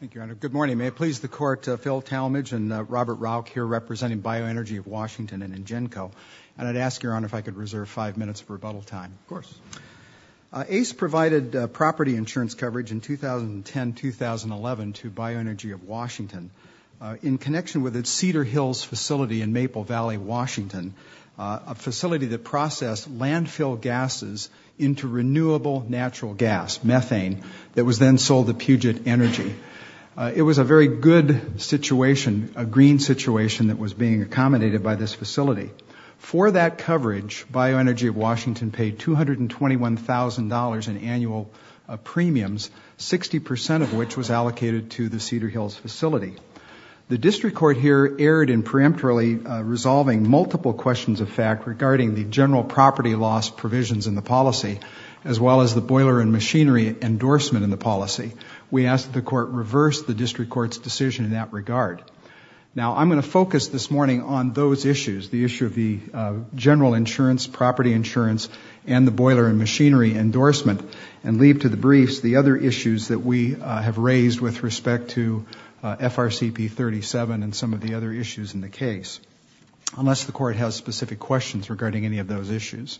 Thank you, Your Honor. Good morning. May it please the Court, Phil Talmadge and Robert Rauch here representing Bioenergy of Washington and INGENCO. And I'd ask, Your Honor, if I could reserve five minutes of rebuttal time. Of course. ACE provided property insurance coverage in 2010-2011 to Bioenergy of Washington in connection with its Cedar Hills facility in Maple Valley, Washington, a facility that processed landfill gases into renewable natural gas, methane, that was then sold to Puget Energy. It was a very good situation, a green situation, that was being accommodated by this facility. For that coverage, Bioenergy of Washington paid $221,000 in annual premiums, 60% of which was allocated to the Cedar Hills facility. The District Court here erred in preemptorily resolving multiple questions of fact regarding the general property loss provisions in the policy, as well as the boiler and machinery endorsement in the policy. We ask that the Court reverse the District Court's decision in that regard. Now I'm going to focus this morning on those issues, the issue of the general insurance, property insurance, and the boiler and machinery endorsement, and leave to the briefs the other issues that we have raised with respect to FRCP 37 and some of the other issues in the case, unless the Court has specific questions regarding any of those issues.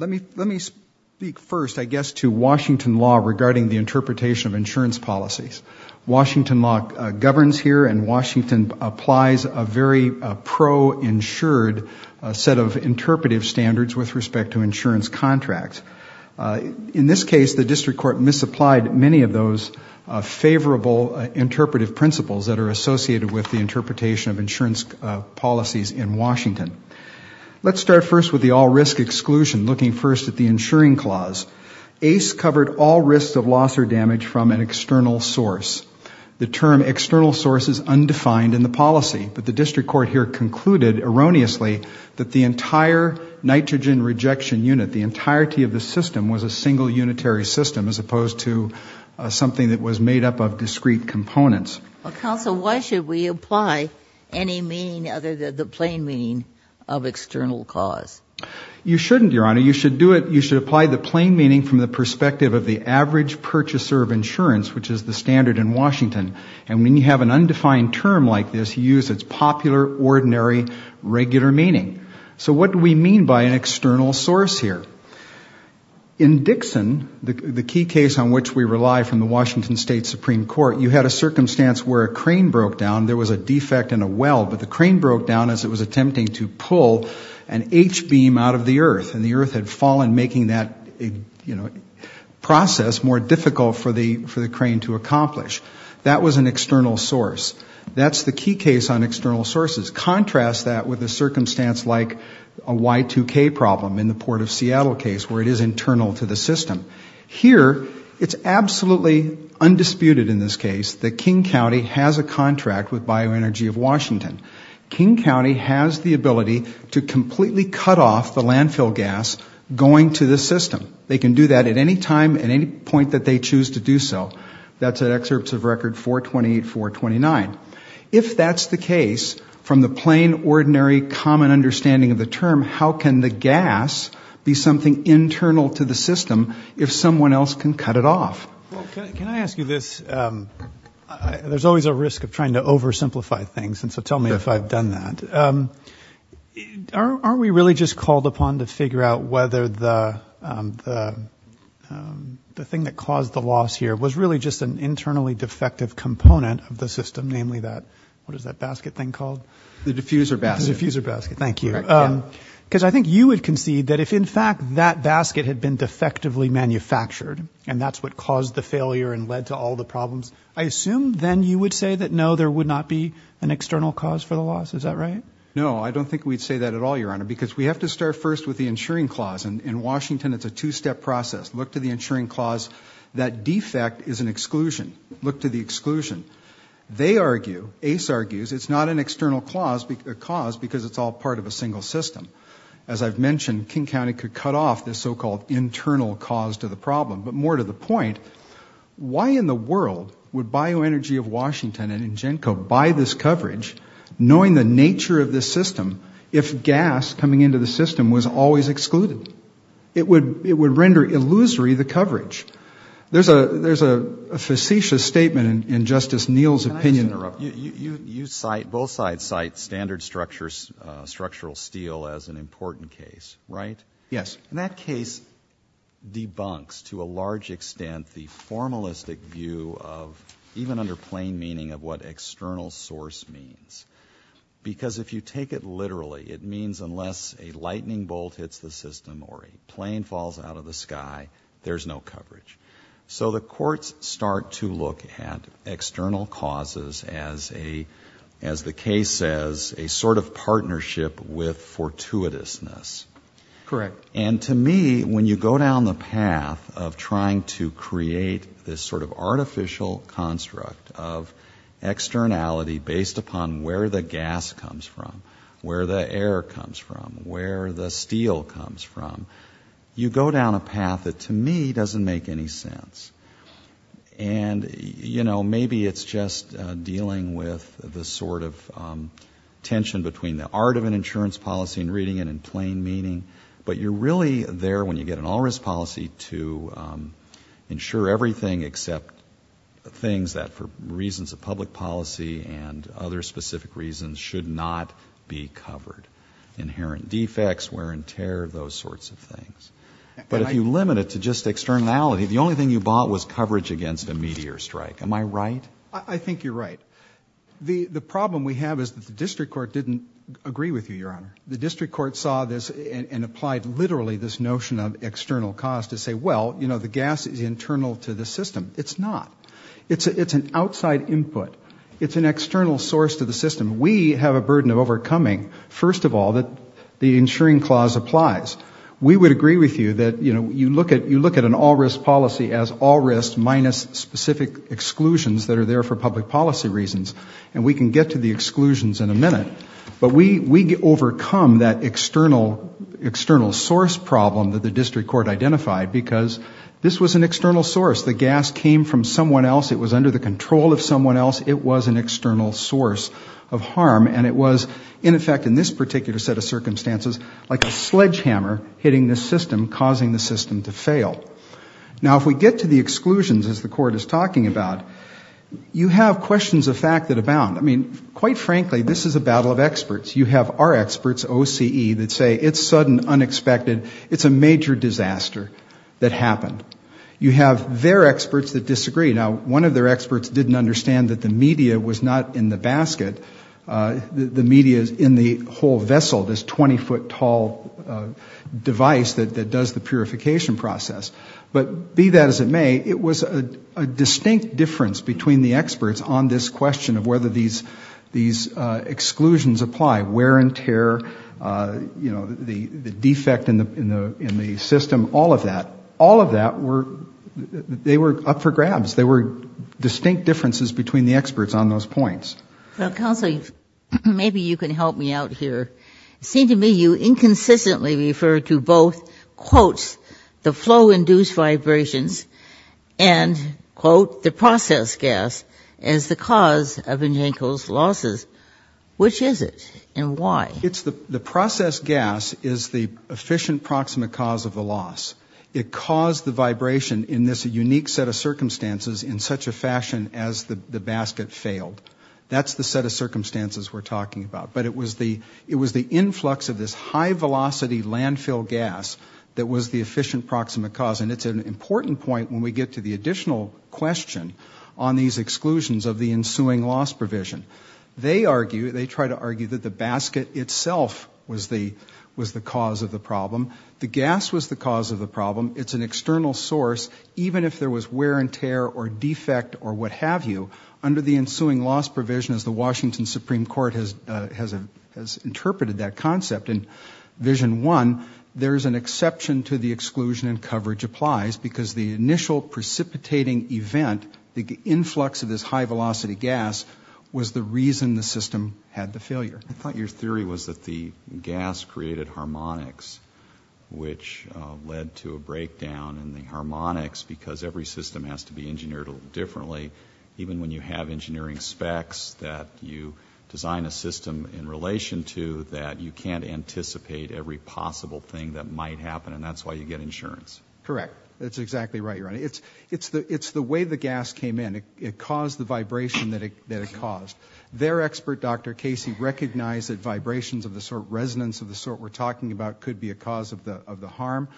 Let me speak first, I guess, to Washington law regarding the interpretation of insurance policies. Washington law governs here, and Washington applies a very pro-insured set of interpretive standards with respect to insurance contracts. In this case, the District Court misapplied many of those favorable interpretive principles that are associated with the interpretation of insurance policies in Washington. Let's start first with the all-risk exclusion, looking first at the insuring clause. ACE covered all risks of loss or damage from an external source. The term external source is undefined in the policy, but the District Court here concluded erroneously that the entire nitrogen rejection unit, the entirety of the system was a single unitary system as opposed to something that was made up of discrete components. Counsel, why should we apply any meaning other than the plain meaning of external cause? You shouldn't, Your Honor. You should do it, you should apply the plain meaning from the perspective of the average purchaser of insurance, which is the standard in Washington. And when you have an undefined term like this, you use its popular, ordinary, regular meaning. So what do we mean by an external source here? In Dixon, the key case on which we rely from the Washington State Supreme Court, you had a circumstance where a crane broke down. There was a defect in a well, but the crane broke down as it was attempting to pull an H-beam out of the earth, and the earth had fallen, making that process more difficult for the crane to accomplish. That was an external source. That's the key case on external sources. Contrast that with a circumstance like a Y2K problem in the Port of Seattle case where it is internal to the system. Here, it's absolutely undisputed in this case that King County has a contract with Bioenergy of Washington. King County has the ability to completely cut off the landfill gas going to the system. They can do that at any time, at any point that they choose to do so. That's at excerpts of record 428, 429. If that's the case, from the plain, ordinary, common understanding of the term, how can the gas be something internal to the system if someone else can cut it off? Well, can I ask you this? There's always a risk of trying to oversimplify things, and so tell me if I've done that. Are we really just called upon to figure out whether the thing that caused the loss here was really just an internally defective component of the system, namely that, what is that basket thing called? The diffuser basket. The diffuser basket, thank you. Because I think you would concede that if in fact that basket had been defectively manufactured, and that's what caused the failure and led to all the problems, I assume then you would say that no, there would not be an external cause for the loss. Is that right? No, I don't think we'd say that at all, Your Honor, because we have to start first with the insuring clause. In Washington, it's a two-step process. Look to the insuring clause. That defect is an exclusion. Look to the exclusion. They argue, Ace argues, it's not an external cause because it's all part of a single system. As I've mentioned, King County could cut off this so-called internal cause to the problem, but more to the point, why in the world would Bioenergy of Washington and Ingenco buy this coverage, knowing the nature of this system, if gas coming into the system was always excluded? It would render illusory the coverage. There's a facetious statement in Justice Neal's opinion. Can I just interrupt? You cite, both sides cite, standard structural steel as an important case, right? Yes. And that case debunks, to a large extent, the formalistic view of, even under plain meaning, of what external source means. Because if you take it literally, it means unless a lightning bolt hits the system or a plane falls out of the sky, there's no coverage. So the courts start to look at external causes as a, as the case says, a sort of partnership with fortuitousness. Correct. And to me, when you go down the path of trying to create this sort of artificial construct of externality based upon where the gas comes from, where the air comes from, where the steel comes from, you go down a path that, to me, doesn't make any sense. And, you know, maybe it's just dealing with the sort of tension between the art of an insurance policy and reading it in plain meaning, but you're really there when you get an all-risk policy to ensure everything except things that, for reasons of public policy and other specific reasons, should not be covered. Inherent defects, wear and tear, those sorts of things. But if you limit it to just externality, the only thing you bought was coverage against a meteor strike. Am I right? I think you're right. The problem we have is that the district court didn't agree with you, Your Honor. The district court saw this and applied literally this notion of external cost to say, well, you know, the gas is internal to the system. It's not. It's an outside input. It's an external source to the system. We have a burden of overcoming, first of all, that the insuring clause applies. We would agree with you that, you know, you look at an all-risk policy as all risk minus specific exclusions that are there for public policy reasons and we can get to the exclusions in a minute. But we overcome that external source problem that the district court identified because this was an external source. The gas came from someone else. It was under the control of someone else. It was an external source of harm. And it was, in effect, in this particular set of circumstances, like a sledgehammer hitting the system, causing the system to fail. Now if we get to the exclusions, as the court is talking about, you have questions of fact that abound. I mean, quite frankly, this is a battle of experts. You have our experts, OCE, that say it's sudden, unexpected, it's a major disaster that happened. You have their experts that disagree. Now one of their experts didn't understand that the media was not in the basket. The media is in the whole vessel, this 20-foot tall device that does the purification process. But be that as it may, it was a distinct difference between the experts on this question of whether these exclusions apply, wear and tear, you know, the defect in the system, all of that. All of that, they were up for grabs. They were distinct differences between the experts on those points. Well, Counsel, maybe you can help me out here. It seemed to me you inconsistently referred to both, quotes, the flow-induced vibrations and, quote, the process gas as the cause of evangelicals' losses. Which is it and why? The process gas is the efficient proximate cause of the loss. It caused the vibration in this unique set of circumstances in such a fashion as the basket failed. That's the set of circumstances we're talking about. But it was the influx of this high-velocity landfill gas that was the efficient proximate cause. And it's an important point when we get to the additional question on these exclusions of the ensuing loss provision. They argue, they try to argue that the basket itself was the cause of the problem. The gas was the cause of the problem. It's an external source. Even if there was wear and tear or defect or what have you, under the ensuing loss provision, as the Washington Supreme Court has interpreted that concept in Vision 1, there's an exception to the exclusion and coverage applies because the initial precipitating event, the influx of this high-velocity gas, was the reason the system had the failure. I thought your theory was that the gas created harmonics, which led to a breakdown in the harmonics because every system has to be engineered a little differently. Even when you have engineering specs that you design a system in relation to that you can't anticipate every possible thing that might happen and that's why you get insurance. Correct. That's exactly right, Your Honor. It's the way the gas came in. It caused the vibration that it caused. Their expert, Dr. Casey, recognized that vibrations of the sort of resonance of the sort we're talking about could be a cause of the harm.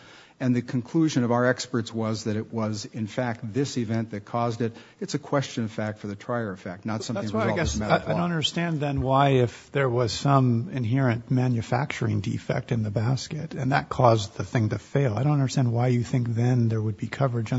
And the conclusion of our experts was that it was, in fact, this event that caused it. It's a question of fact for the trier effect, not something resolved as a matter of law. That's why I guess I don't understand then why if there was some inherent manufacturing defect in the basket and that caused the thing to fail. I don't understand why you think then there would be coverage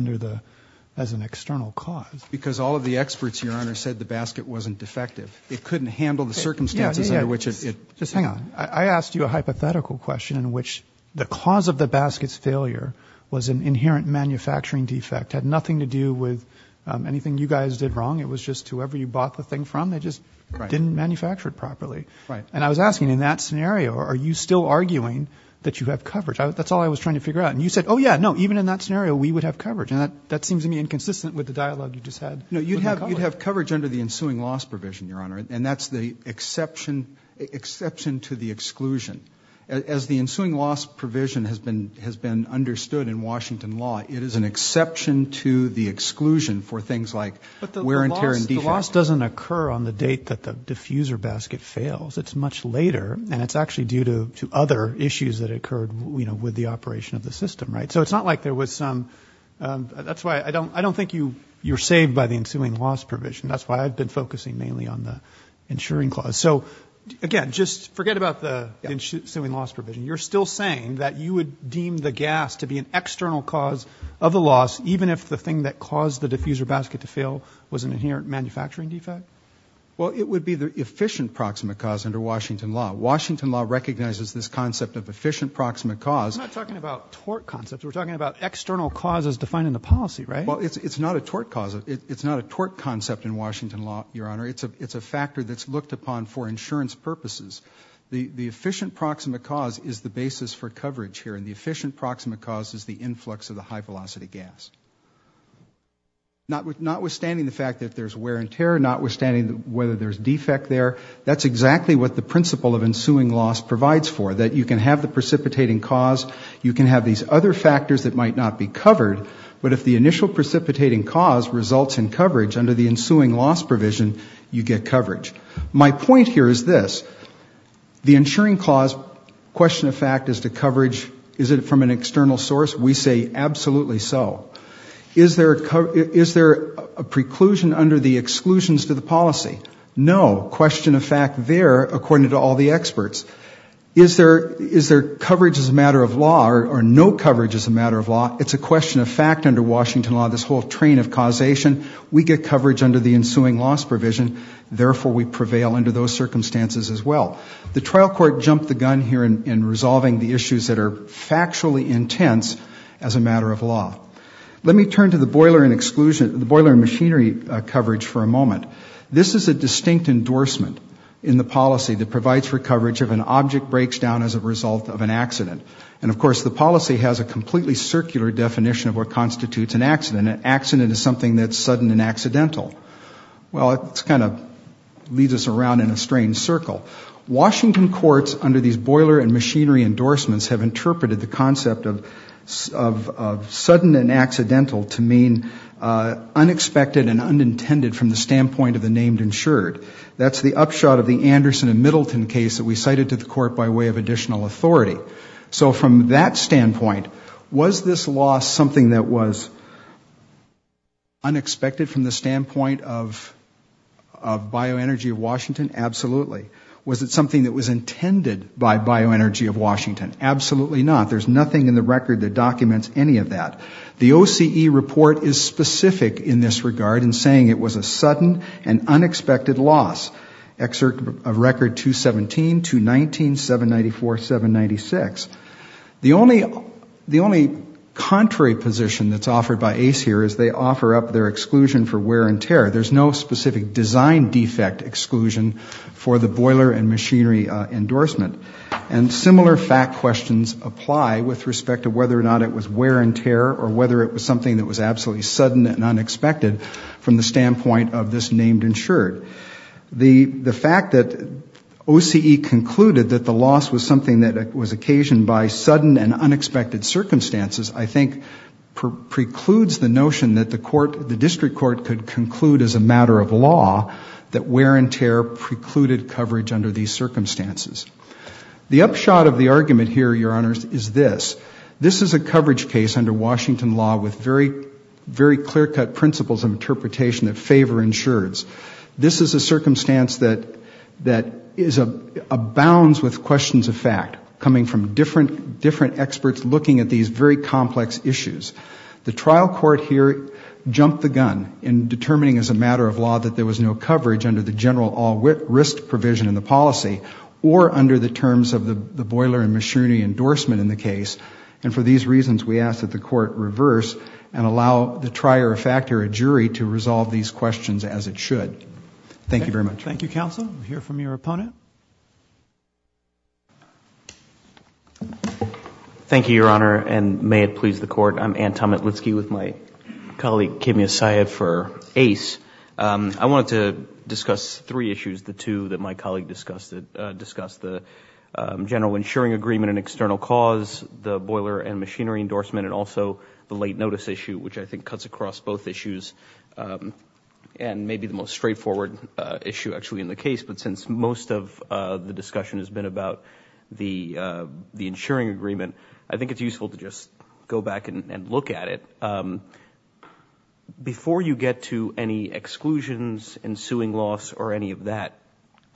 as an external cause. Because all of the experts, Your Honor, said the basket wasn't defective. It couldn't handle the circumstances under which it... Just hang on. I asked you a hypothetical question in which the cause of the basket's failure was an inherent manufacturing defect. It had nothing to do with anything you guys did wrong. It was just whoever you bought the thing from, they just didn't manufacture it properly. I was asking, in that scenario, are you still arguing that you have coverage? That's all I was trying to figure out. And you said, oh, yeah, no, even in that scenario, we would have coverage. And that seems to me inconsistent with the dialogue you just had with my colleague. You'd have coverage under the ensuing loss provision, Your Honor, and that's the exception to the exclusion. As the ensuing loss provision has been understood in Washington law, it is an exception to the exclusion for things like wear and tear and defects. Loss doesn't occur on the date that the diffuser basket fails. It's much later, and it's actually due to other issues that occurred with the operation of the system, right? So it's not like there was some... That's why I don't think you're saved by the ensuing loss provision. That's why I've been focusing mainly on the ensuring clause. So again, just forget about the ensuing loss provision. You're still saying that you would deem the gas to be an external cause of the loss, even if the thing that caused the diffuser basket to fail was an inherent manufacturing defect? Well, it would be the efficient proximate cause under Washington law. Washington law recognizes this concept of efficient proximate cause. I'm not talking about tort concepts. We're talking about external causes defined in the policy, right? Well, it's not a tort concept in Washington law, Your Honor. It's a factor that's looked upon for insurance purposes. The efficient proximate cause is the basis for coverage here, and the efficient proximate cause is the influx of the high-velocity gas. Notwithstanding the fact that there's wear and tear, notwithstanding whether there's defect there, that's exactly what the principle of ensuing loss provides for, that you can have the precipitating cause, you can have these other factors that might not be covered, but if the initial precipitating cause results in coverage under the ensuing loss provision, you get coverage. My point here is this. The ensuring clause, question of fact, is the coverage, is it from an external source? We say absolutely so. Is there a preclusion under the exclusions to the policy? No. Question of fact there, according to all the experts. Is there coverage as a matter of law, or no coverage as a matter of law? It's a question of fact under Washington law, this whole train of causation. We get coverage under the ensuing loss provision, therefore we prevail under those circumstances as well. The trial court jumped the gun here in resolving the issues that are factually intense as a matter of law. Let me turn to the boiler and machinery coverage for a moment. This is a distinct endorsement in the policy that provides for coverage if an object breaks down as a result of an accident. And of course the policy has a completely circular definition of what constitutes an accident. An accident is something that's sudden and accidental. Well, it kind of leads us around in a strange circle. Washington courts under these boiler and machinery endorsements have interpreted the concept of sudden and accidental to mean unexpected and unintended from the standpoint of the named insured. That's the upshot of the Anderson and Middleton case that we cited to the court by way of additional authority. So from that standpoint, was this loss something that was unexpected from the standpoint of bioenergy of Washington? Absolutely. Was it something that was intended by bioenergy of Washington? Absolutely not. There's nothing in the record that documents any of that. The OCE report is specific in this regard in saying it was a sudden and unexpected loss. Excerpt of record 217, 219, 794, 796. The only contrary position that's offered by ACE here is they offer up their exclusion for wear and tear. There's no specific design defect exclusion for the boiler and machinery endorsement. And similar fact questions apply with respect to whether or not it was wear and tear or whether it was something that was absolutely sudden and unexpected from the standpoint of this named insured. The fact that OCE concluded that the loss was something that was occasioned by sudden and unexpected circumstances I think precludes the notion that the court, the district court could conclude as a matter of law that wear and tear precluded coverage under these circumstances. The upshot of the argument here, Your Honors, is this. This is a coverage case under Washington law with very clear cut principles of interpretation that favor insureds. This is a circumstance that abounds with questions of fact coming from different experts looking at these very complex issues. The trial court here jumped the gun in determining as a matter of law that there was no coverage under the general all risk provision in the policy or under the terms of the boiler and machinery endorsement in the case. And for these reasons we ask that the court reverse and allow the trier of fact or a jury to resolve these questions as it should. Thank you very much. Thank you, counsel. We'll hear from your opponent. Thank you, Your Honor, and may it please the court. I'm Anton Metlitsky with my colleague Kimya Syed for ACE. I wanted to discuss three issues, the two that my colleague discussed, the general insuring agreement and external cause, the boiler and machinery endorsement and also the late notice issue, which I think cuts across both issues and may be the most straightforward issue actually in the case. But since most of the discussion has been about the insuring agreement, I think it's useful to just go back and look at it. Before you get to any exclusions, ensuing loss or any of that,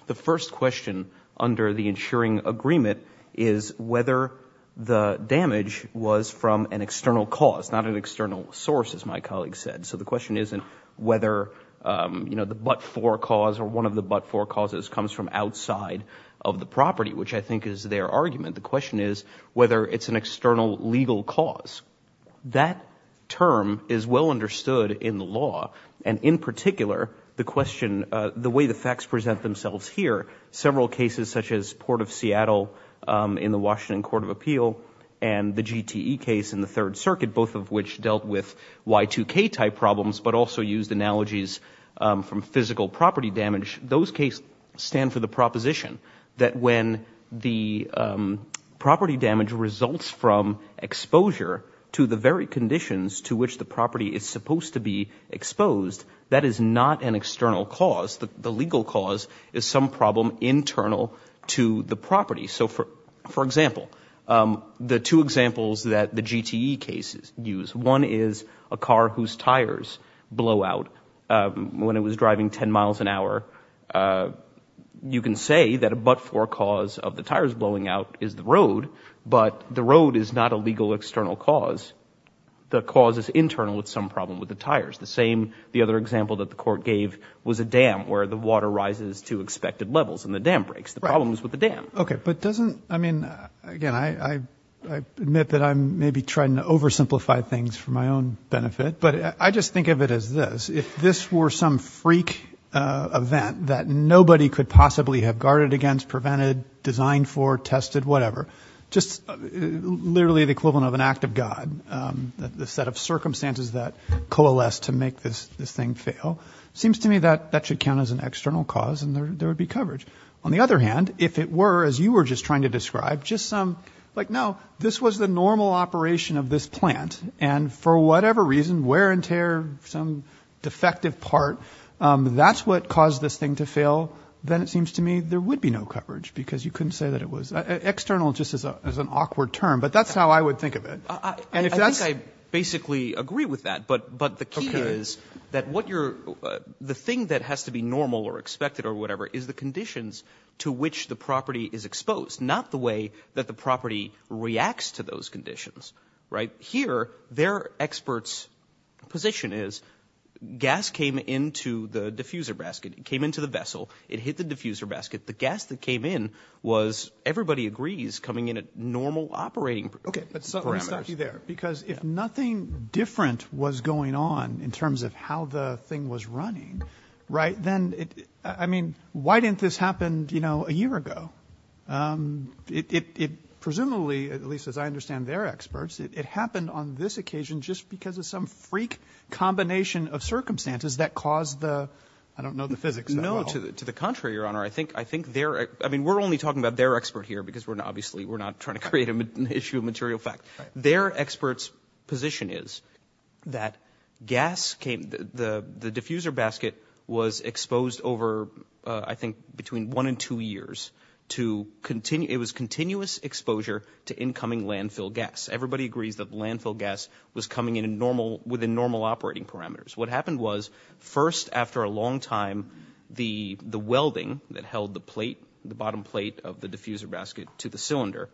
the first question under the insuring agreement is whether the damage was from an external cause, not an external source, as my colleague said. So the question isn't whether the but-for cause or one of the but-for causes comes from outside of the property, which I think is their argument. The question is whether it's an external legal cause. That term is well understood in the law and in particular the question, the way the facts present themselves here, several cases such as Port of Seattle in the Washington Court of Appeal and the GTE case in the Third Circuit, both of which dealt with Y2K type problems but also used analogies from physical property damage. Those cases stand for the proposition that when the property damage results from exposure to the very conditions to which the property is supposed to be exposed, that is not an external cause. The legal cause is some problem internal to the property. So for example, the two examples that the GTE cases use, one is a car whose tires blow out when it was driving 10 miles an hour. You can say that a but-for cause of the tires blowing out is the road, but the road is not a legal external cause. The cause is internal with some problem with the tires. The same, the other example that the court gave was a dam where the water rises to expected levels and the dam breaks. The problem is with the dam. Okay. But doesn't, I mean, again, I admit that I'm maybe trying to oversimplify things for my own benefit, but I just think of it as this. If this were some freak event that nobody could possibly have guarded against, prevented, designed for, tested, whatever, just literally the equivalent of an act of God, the set of circumstances that coalesced to make this thing fail, it seems to me that that should count as an external cause and there would be coverage. On the other hand, if it were, as you were just trying to describe, just some, like, no, this was the normal operation of this plant and for whatever reason, wear and tear, some defective part, that's what caused this thing to fail, then it seems to me there would be no coverage because you couldn't say that it was, external just as an awkward term, but that's how I would think of it. I think I basically agree with that, but the key is that what you're, the thing that has to be normal or expected or whatever is the conditions to which the property is exposed, not the way that the property reacts to those conditions, right? Here, their expert's position is gas came into the diffuser basket, it came into the vessel, it hit the diffuser basket, the gas that came in was, everybody agrees, coming in at normal operating parameters. Okay, but let me stop you there because if nothing different was going on in terms of how the thing was running, right, then it, I mean, why didn't this happen, you know, a year ago? It, presumably, at least as I understand their experts, it happened on this combination of circumstances that caused the, I don't know, the physics. No, to the contrary, Your Honor. I think, I think they're, I mean, we're only talking about their expert here because we're not, obviously, we're not trying to create an issue of material fact. Their expert's position is that gas came, the diffuser basket was exposed over, I think, between one and two years to continue, it was continuous exposure to incoming landfill gas. Everybody agrees that landfill gas was coming in normal, within normal operating parameters. What happened was, first, after a long time, the welding that held the plate, the bottom plate of the diffuser basket to the cylinder,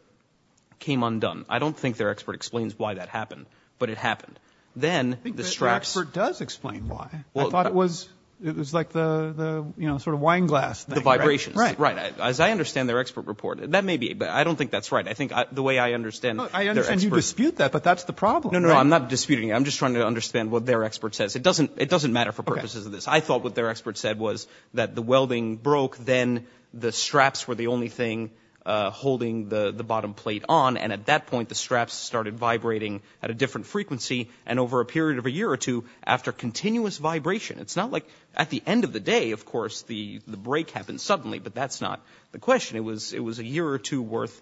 came undone. I don't think their expert explains why that happened, but it happened. Then, the straps- I think their expert does explain why. I thought it was, it was like the, you know, sort of wine glass thing, right? The vibrations. Right. Right. As I understand their expert report, that may be, but I don't think that's right. I think the way I understand their expert- I understand you dispute that, but that's the problem. No, no, I'm not disputing it. I'm just trying to understand what their expert says. It doesn't, it doesn't matter for purposes of this. I thought what their expert said was that the welding broke, then the straps were the only thing holding the bottom plate on, and at that point, the straps started vibrating at a different frequency, and over a period of a year or two, after continuous vibration. It's not like, at the end of the day, of course, the break happened suddenly, but that's not the question. It was a year or two worth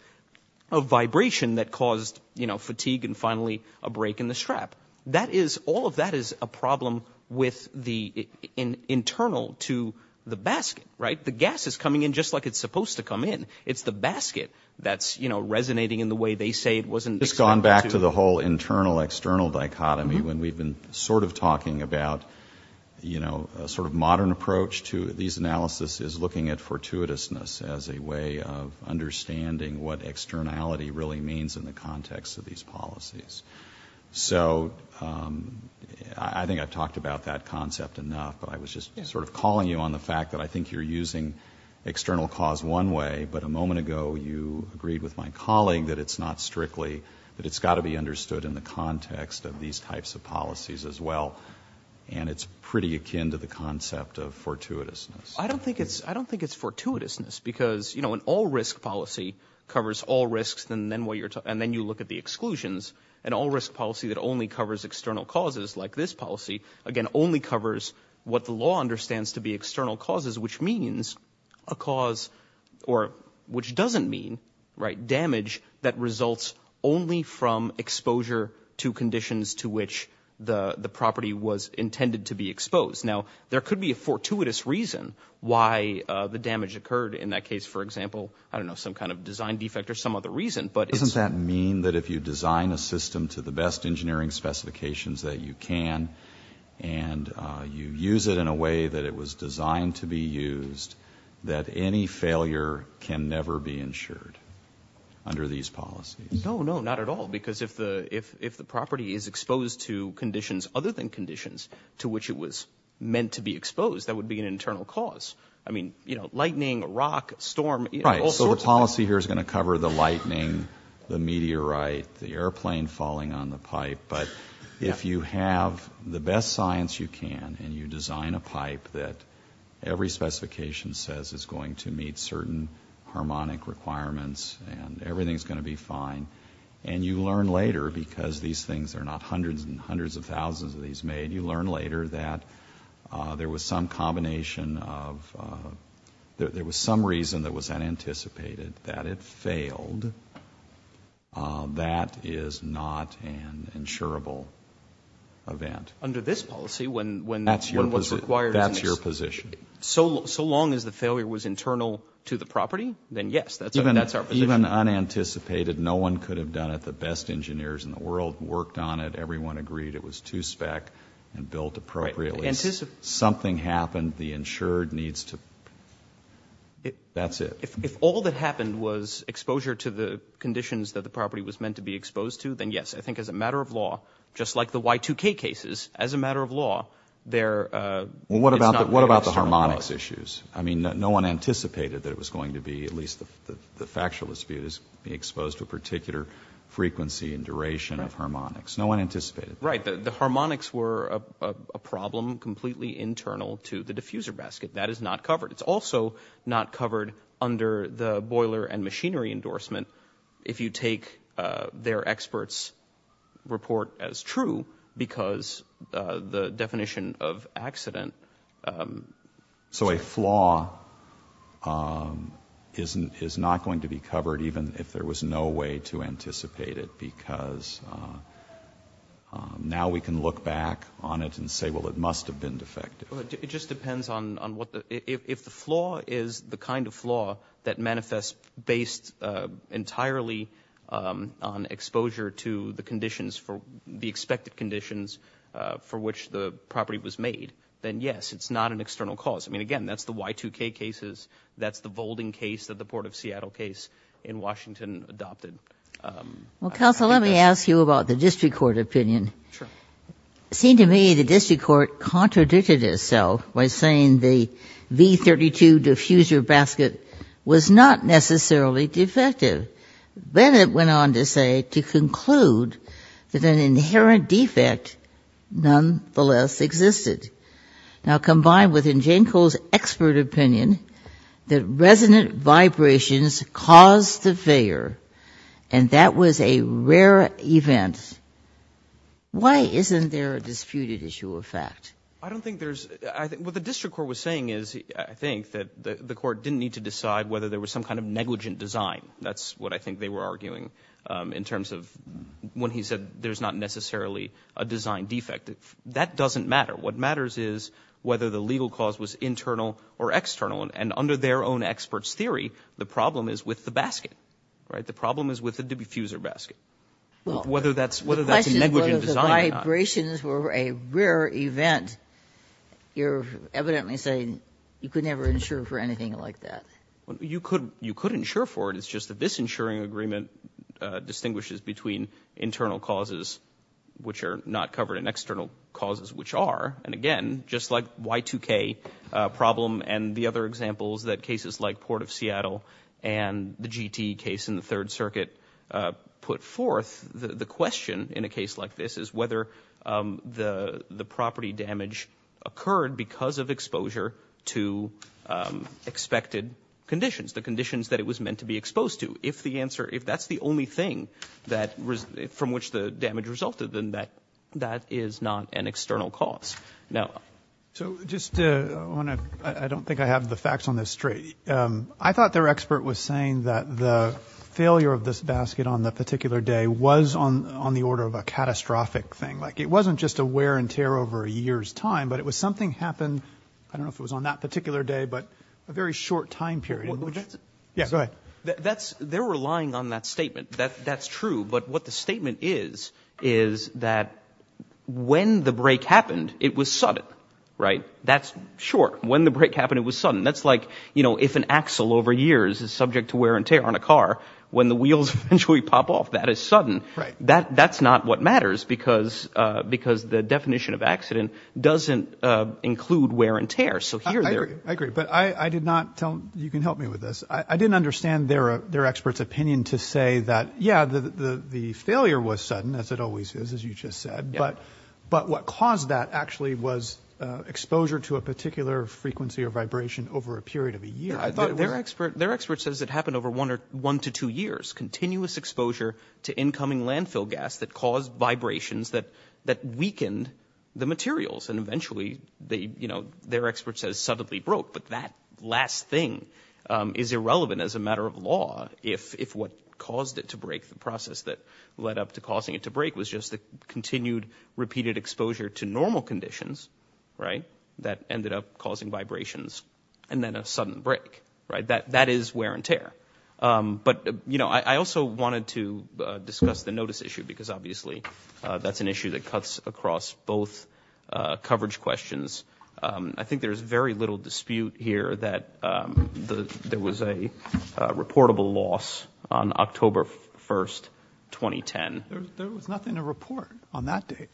of break in the strap. That is, all of that is a problem with the internal to the basket, right? The gas is coming in just like it's supposed to come in. It's the basket that's, you know, resonating in the way they say it wasn't- It's gone back to the whole internal-external dichotomy when we've been sort of talking about, you know, a sort of modern approach to these analysis is looking at fortuitousness as a way of understanding what externality really means in the context of these policies. So I think I've talked about that concept enough, but I was just sort of calling you on the fact that I think you're using external cause one way, but a moment ago, you agreed with my colleague that it's not strictly, that it's got to be understood in the context of these types of policies as well, and it's pretty akin to the concept of fortuitousness. I don't think it's, I don't think it's fortuitousness because, you know, an all-risk policy covers all risks, and then you look at the exclusions. An all-risk policy that only covers external causes like this policy, again, only covers what the law understands to be external causes, which means a cause, or which doesn't mean, right, damage that results only from exposure to conditions to which the property was intended to be exposed. Now, there could be a fortuitous reason why the damage occurred. In that case, for example, I don't know, some kind of design defect or some other reason, but it's... Doesn't that mean that if you design a system to the best engineering specifications that you can, and you use it in a way that it was designed to be used, that any failure can never be ensured under these policies? No, no, not at all, because if the property is exposed to conditions other than conditions to which it was meant to be exposed, that would be an internal cause. I mean, you know, lightning, rock, storm, all sorts of things. Right, so the policy here is going to cover the lightning, the meteorite, the airplane falling on the pipe, but if you have the best science you can, and you design a pipe that every specification says is going to meet certain harmonic requirements, and everything's going to be fine, and you learn later, because these things are not hundreds and hundreds of thousands of these made, you learn later that there was some combination of, there was some reason that was unanticipated that it failed. That is not an insurable event. Under this policy, when... That's your position. When what's required... That's your position. So long as the failure was internal to the property, then yes, that's our position. Even unanticipated, no one could have done it. The best engineers in the world worked on it, everyone agreed it was to spec, and built appropriately. Something happened, the insured needs to... that's it. If all that happened was exposure to the conditions that the property was meant to be exposed to, then yes, I think as a matter of law, just like the Y2K cases, as a matter of law, there is not... Well, what about the harmonics issues? I mean, no one anticipated that it was going to be, at least the factual dispute, is being exposed to a particular frequency and duration of Right. The harmonics were a problem completely internal to the diffuser basket. That is not covered. It's also not covered under the boiler and machinery endorsement, if you take their experts' report as true, because the definition of accident... So a flaw is not going to be covered, even if there was no way to anticipate it, because now we can look back on it and say, well, it must have been defective. It just depends on what the... if the flaw is the kind of flaw that manifests based entirely on exposure to the conditions for... the expected conditions for which the property was made, then yes, it's not an external cause. I mean, again, that's the Y2K cases. That's the Volding case that the Port of Seattle case in Washington adopted. Well, counsel, let me ask you about the district court opinion. Sure. It seemed to me the district court contradicted itself by saying the V32 diffuser basket was not necessarily defective. Bennett went on to say, to conclude, that an inherent defect nonetheless existed. Now, combined with, in Jane Cole's expert opinion, that resonant vibrations caused the failure, and that was a rare event. Why isn't there a disputed issue of fact? I don't think there's... what the district court was saying is, I think, that the court didn't need to decide whether there was some kind of negligent design. That's what I think they were arguing in terms of when he said there's not necessarily a design defect. That doesn't matter. What matters is whether the legal cause was internal or external. And under their own expert's theory, the problem is with the basket, right? The problem is with the diffuser basket. Whether that's a negligent design or not. Well, the question is whether the vibrations were a rare event. You're evidently saying you could never insure for anything like that. You could insure for it. It's just that this insuring agreement distinguishes between internal causes, which are not covered, and external causes, which are. And again, just like Y2K problem and the other examples that cases like Port of Seattle and the GT case in the Third Circuit put forth, the question in a case like this is whether the property damage occurred because of exposure to expected conditions, the conditions that it was meant to be exposed to. If that's the only thing from which the damage resulted, then that is not an external cause. I don't think I have the facts on this straight. I thought their expert was saying that the failure of this basket on the particular day was on the order of a catastrophic thing. It wasn't just a wear and tear over a year's time, but it was something happened, I don't know if it was on that particular day, but a very short time period. Yeah, go ahead. They're relying on that statement. That's true. But what the statement is, is that when the break happened, it was sudden, right? That's short. When the break happened, it was sudden. That's like if an axle over years is subject to wear and tear on a car, when the wheels eventually pop off, that is sudden. That's not what matters because the definition of accident doesn't include wear and tear. I agree, but you can help me with this. I didn't understand their expert's opinion to say that, yeah, the failure was sudden, as it always is, as you just said, but what caused that actually was exposure to a particular frequency or vibration over a period of a year. Their expert says it happened over one to two years, continuous exposure to incoming landfill gas that caused vibrations that weakened the materials and eventually, their expert says suddenly broke, but that last thing is irrelevant as a matter of law if what caused it to break, the process that led up to causing it to break was just the continued repeated exposure to normal conditions, right, that ended up causing vibrations and then a sudden break, right? That is wear and tear, but I also wanted to discuss the notice issue because obviously, that's an issue that cuts across both coverage questions. I think there's very little dispute here that there was a reportable loss on October 1st, 2010. There was nothing to report on that date.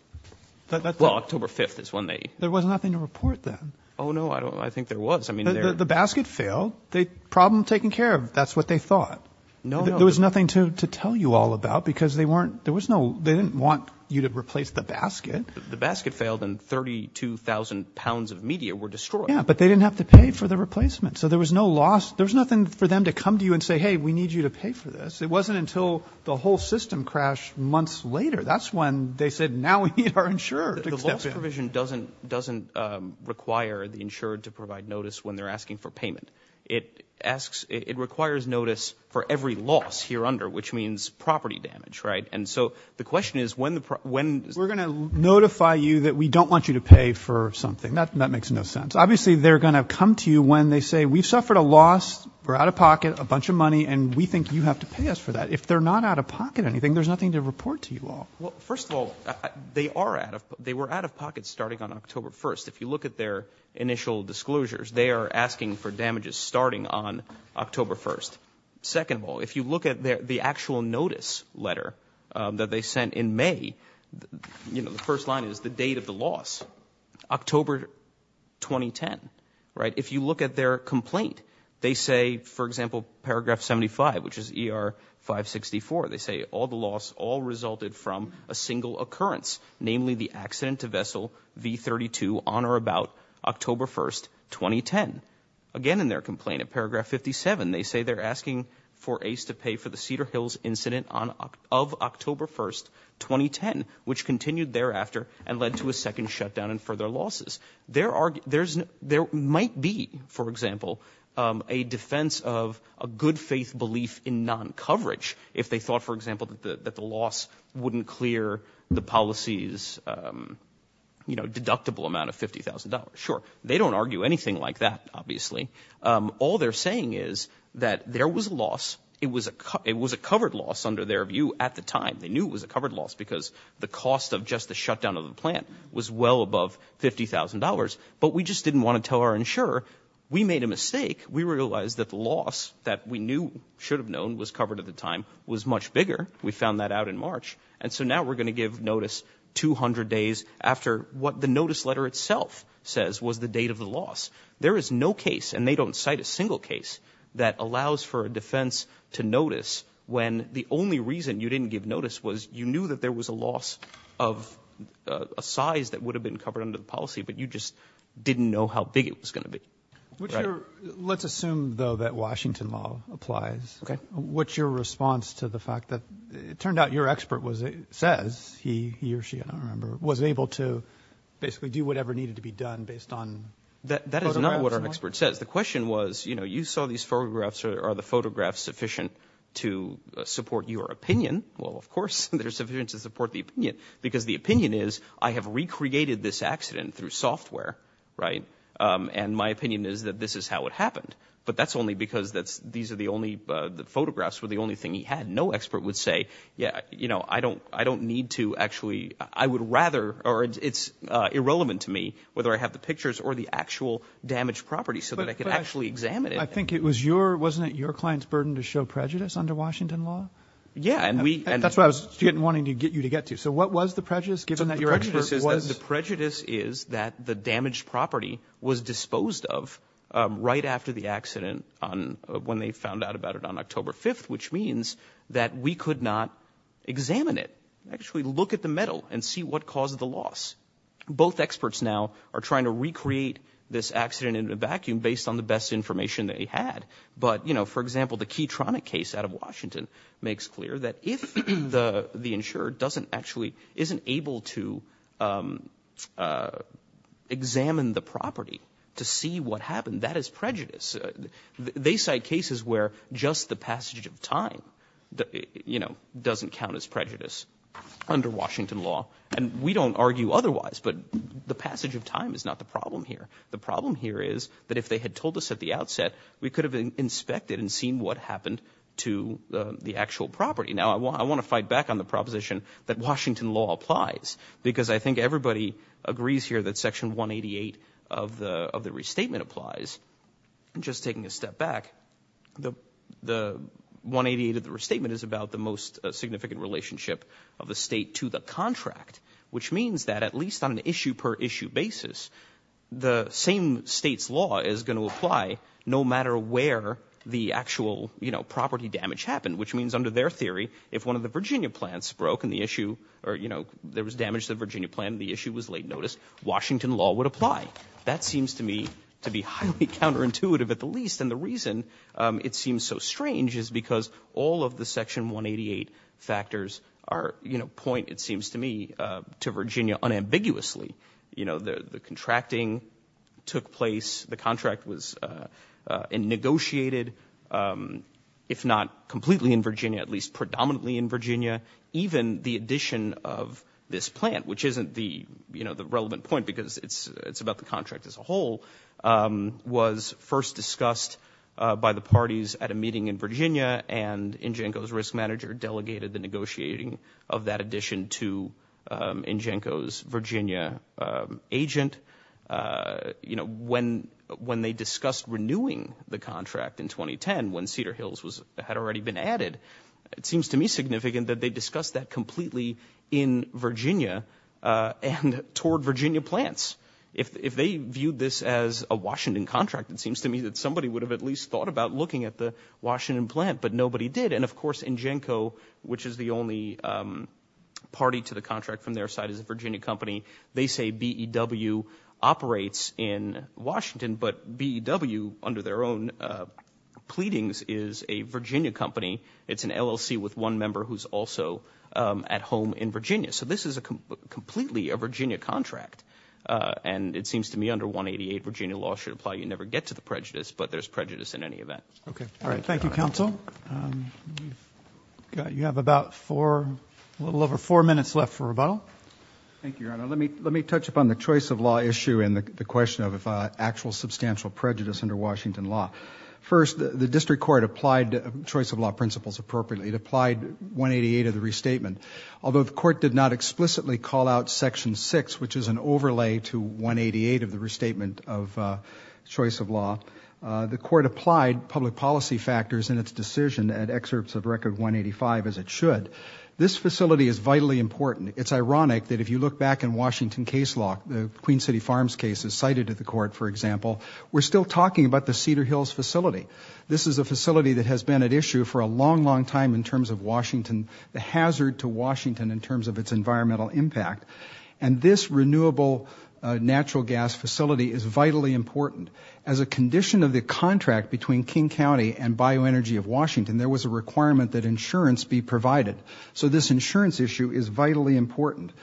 Well, October 5th is when they... There was nothing to report then. Oh, no, I think there was. The basket failed, the problem taken care of, that's what they thought. There was nothing to tell you all about because they didn't want you to replace the basket. The basket failed and 32,000 pounds of media were destroyed. Yeah, but they didn't have to pay for the replacement, so there was no loss. There was nothing for them to come to you and say, hey, we need you to pay for this. It wasn't until the whole system crashed months later. That's when they said, now we need our insurer to accept it. The loss provision doesn't require the insurer to provide notice when they're asking for payment. It requires notice for every loss here under, which means property damage, right? And so the question is when... We're going to notify you that we don't want you to pay for something. That makes no sense. Obviously, they're going to come to you when they say, we've suffered a loss, we're out of pocket, a bunch of money, and we think you have to pay us for that. If they're not out of pocket anything, there's nothing to report to you all. Well, first of all, they were out of pocket starting on October 1st. If you look at their initial disclosures, they are asking for damages starting on October 1st. Second of all, if you look at the actual notice letter that they sent in May, the first line is the date of the loss, October 2010, right? If you look at their complaint, they say, for example, paragraph 75, which is ER-564, they say all the loss all resulted from a single occurrence, namely the accident to vessel V-32 on or about October 1st, 2010. Again, in their complaint at paragraph 57, they say they're asking for Ace to pay for the Cedar Hills incident of October 1st, 2010, which continued thereafter and led to a second shutdown and further losses. There might be, for example, a defense of a good faith belief in non-coverage if they thought, for example, that the loss wouldn't clear the policy's, you know, deductible amount of $50,000. Sure. They don't argue anything like that, obviously. All they're saying is that there was a loss. It was a covered loss under their view at the time. They knew it was a covered loss because the cost of just the shutdown of the plant was well above $50,000. But we just didn't want to tell our insurer. We made a mistake. We realized that the loss that we knew, should have known, was covered at the time was much bigger. We found that out in March. And so now we're going to give notice 200 days after what the notice letter itself says was the date of the loss. There is no case, and they don't cite a single case, that allows for a defense to notice when the only reason you didn't give notice was you knew that there was a loss of a size that would have been covered under the policy, but you just didn't know how big it was going to be. Let's assume, though, that Washington law applies. What's your response to the fact that it turned out your expert says he or she, I don't remember, was able to basically do whatever needed to be done based on photographs? That is not what our expert says. The question was, you know, you saw these photographs. Are the photographs sufficient to support your opinion? Well, of course, they're sufficient to support the opinion, because the opinion is, I have recreated this accident through software, right? And my opinion is that this is how it happened. But that's only because these are the only photographs were the only thing he had. No expert would say, yeah, you know, I don't need to actually, I would rather, or it's irrelevant to me whether I have the actual damaged property so that I could actually examine it. I think it was your, wasn't it your client's burden to show prejudice under Washington law? Yeah, and we. That's what I was wanting to get you to get to. So what was the prejudice given that your expert was. The prejudice is that the damaged property was disposed of right after the accident on when they found out about it on October 5th, which means that we could not examine it, actually look at the metal and see what caused the loss. Both experts now are trying to recreate this accident in a vacuum based on the best information they had. But, you know, for example, the Keytronic case out of Washington makes clear that if the insurer doesn't actually, isn't able to examine the property to see what happened, that is prejudice. They cite cases where just the passage of time, you know, doesn't count as prejudice under Washington law. And we don't argue otherwise, but the passage of time is not the problem here. The problem here is that if they had told us at the outset, we could have been inspected and seen what happened to the actual property. Now I want to fight back on the proposition that Washington law applies because I think everybody agrees here that section 188 of the restatement applies. And just taking a step back, the 188 of the restatement is about the most significant relationship of the state to the contract, which means that at least on an issue per issue basis, the same state's law is going to apply no matter where the actual, you know, property damage happened. Which means under their theory, if one of the Virginia plants broke and the issue or, you know, there was damage to the Virginia plant and the issue was late notice, Washington law would apply. That seems to me to be highly counterintuitive at the least. And the reason it seems so strange is because all of the section 188 factors are, you know, point, it seems to me, to Virginia unambiguously. You know, the contracting took place, the contract was negotiated, if not completely in Virginia, at least predominantly in Virginia. Even the addition of this plant, which isn't the, you know, the relevant point because it's about the contract as a whole, was first discussed by the parties at a meeting in Virginia and Ingenco's risk manager delegated the negotiating of that addition to Ingenco's Virginia agent. You know, when they discussed renewing the contract in 2010, when Cedar Hills had already been added, it seems to me significant that they discussed that completely in Virginia and toward Virginia plants. If they viewed this as a Washington contract, it seems to me that somebody would have at least thought about looking at the Washington plant, but nobody did. And of course, Ingenco, which is the only party to the contract from their side as a Virginia company, they say BEW operates in Washington, but BEW under their own pleadings is a Virginia company. It's an LLC with one member who's also at home in Virginia. So this is a completely a Virginia contract. And it seems to me under 188, Virginia law should apply. You never get to the prejudice, but there's prejudice in any event. Okay. All right. Thank you, counsel. You have about four, a little over four minutes left for rebuttal. Thank you, Your Honor. Let me touch upon the choice of law issue and the question of actual substantial prejudice under Washington law. First, the district court applied choice of law principles appropriately. It applied 188 of the restatement. Although the court did not explicitly call out section six, which is an overlay to 188 of the restatement of choice of law, the court applied public policy factors in its decision and excerpts of record 185 as it should. This facility is vitally important. It's ironic that if you look back in Washington case law, the Queen City Farms cases cited at the court, for example, we're still talking about the Cedar Hills facility. This is a facility that has been at issue for a long, long time in terms of Washington, the hazard to Washington in terms of its environmental impact. And this renewable natural gas facility is vitally important. As a condition of the contract between King County and Bioenergy of Washington, there was a requirement that insurance be provided. So this insurance issue is vitally important.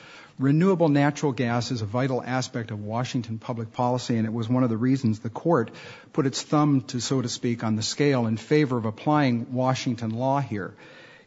Renewable natural gas is a vital aspect of Washington public policy, and it was one of the reasons the court put its thumb, so to speak, on the scale in favor of applying Washington law here.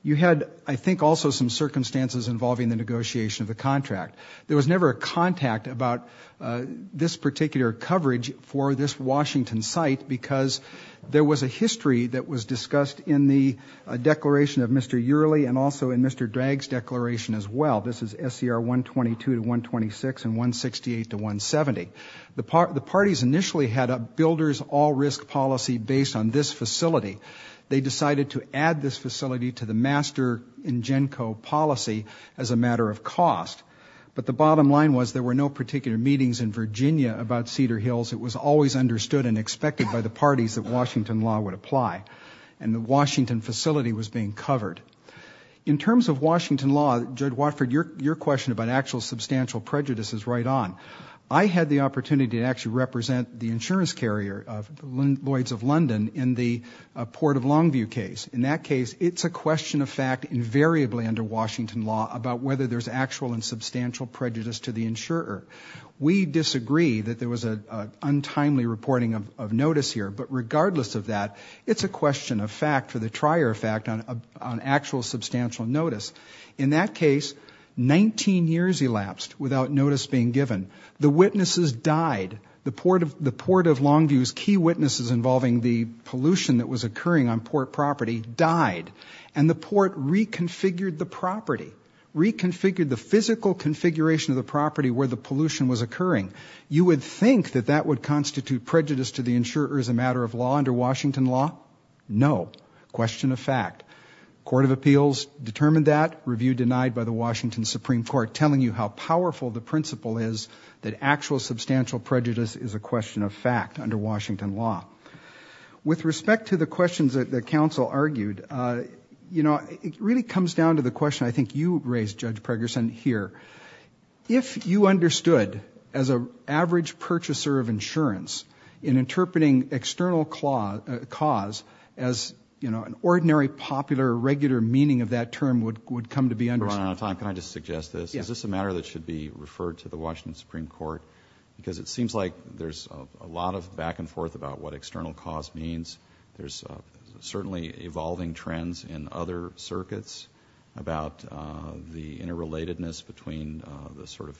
You had, I think, also some circumstances involving the negotiation of the contract. There was never a contact about this particular coverage for this Washington site because there was a history that was discussed in the declaration of Mr. Yearley and also in Mr. Drag's declaration as well. This is SCR 122 to 126 and 168 to 170. The parties initially had builders all risk policy based on this facility. They decided to add this facility to the master in GENCO policy as a matter of cost. But the bottom line was there were no particular meetings in Virginia about Cedar Hills. It was always understood and expected by the parties that Washington law would apply. And the Washington facility was being covered. In terms of Washington law, Judge Watford, your question about actual substantial prejudice is right on. I had the case of Lloyd's of London in the Port of Longview case. In that case, it's a question of fact invariably under Washington law about whether there's actual and substantial prejudice to the insurer. We disagree that there was an untimely reporting of notice here, but regardless of that, it's a question of fact for the trier of fact on actual substantial notice. In that case, 19 years elapsed without notice being given. The witnesses died. The Port of Longview's key witnesses involving the pollution that was occurring on port property died. And the port reconfigured the property, reconfigured the physical configuration of the property where the pollution was occurring. You would think that that would constitute prejudice to the insurer as a matter of law under Washington law? No. Question of fact. Court of Appeals determined that. Review denied by the Washington Supreme Court telling you how powerful the principle is that actual substantial prejudice is a question of fact under Washington law. With respect to the questions that the counsel argued, it really comes down to the question I think you raised, Judge Pregerson, here. If you understood as an average purchaser of insurance in interpreting external cause as an ordinary popular or regular meaning of that term would come to be understood. Your Honor, can I just suggest this? Is this a matter that should be referred to the Washington Supreme Court? Because it seems like there's a lot of back and forth about what external cause means. There's certainly evolving trends in other circuits about the interrelatedness between the sort of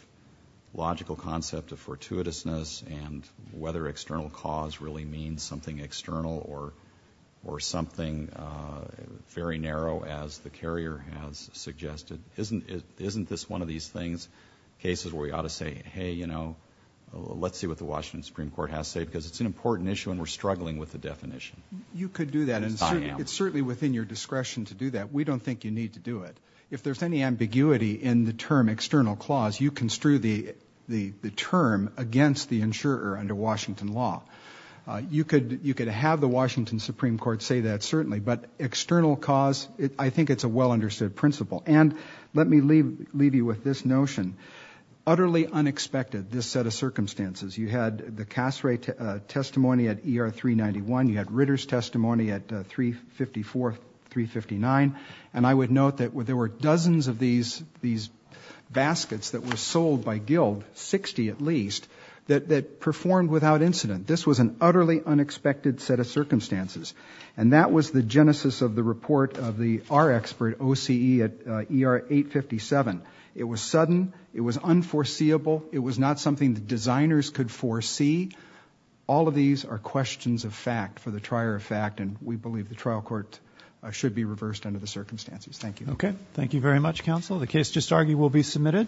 logical concept of fortuitousness and whether external cause really means something external or something very narrow as the carrier has suggested. Isn't this one of these things, cases where we ought to say, hey, you know, let's see what the Washington Supreme Court has to say because it's an important issue and we're struggling with the definition. You could do that. It's certainly within your discretion to do that. We don't think you need to do it. If there's any ambiguity in the term external clause, you construe the term against the insurer under Washington law. You could have the Washington Supreme Court say that certainly, but external cause, I think it's a well-understood principle. And let me leave you with this notion. Utterly unexpected, this set of circumstances. You had the Cassray testimony at ER 391. You had Ritter's testimony at 354, 359. And I would note that there were dozens of these baskets that were sold by Guild, 60 at least, that performed without incident. This was an utterly unexpected set of circumstances. And that was the genesis of the report of the R expert OCE at ER 857. It was sudden. It was unforeseeable. It was not something the designers could foresee. All of these are questions of fact for the trier of fact, and we believe the trial court should be reversed under the circumstances. Thank you. Okay. Thank you very much, counsel. The case just argued will be submitted.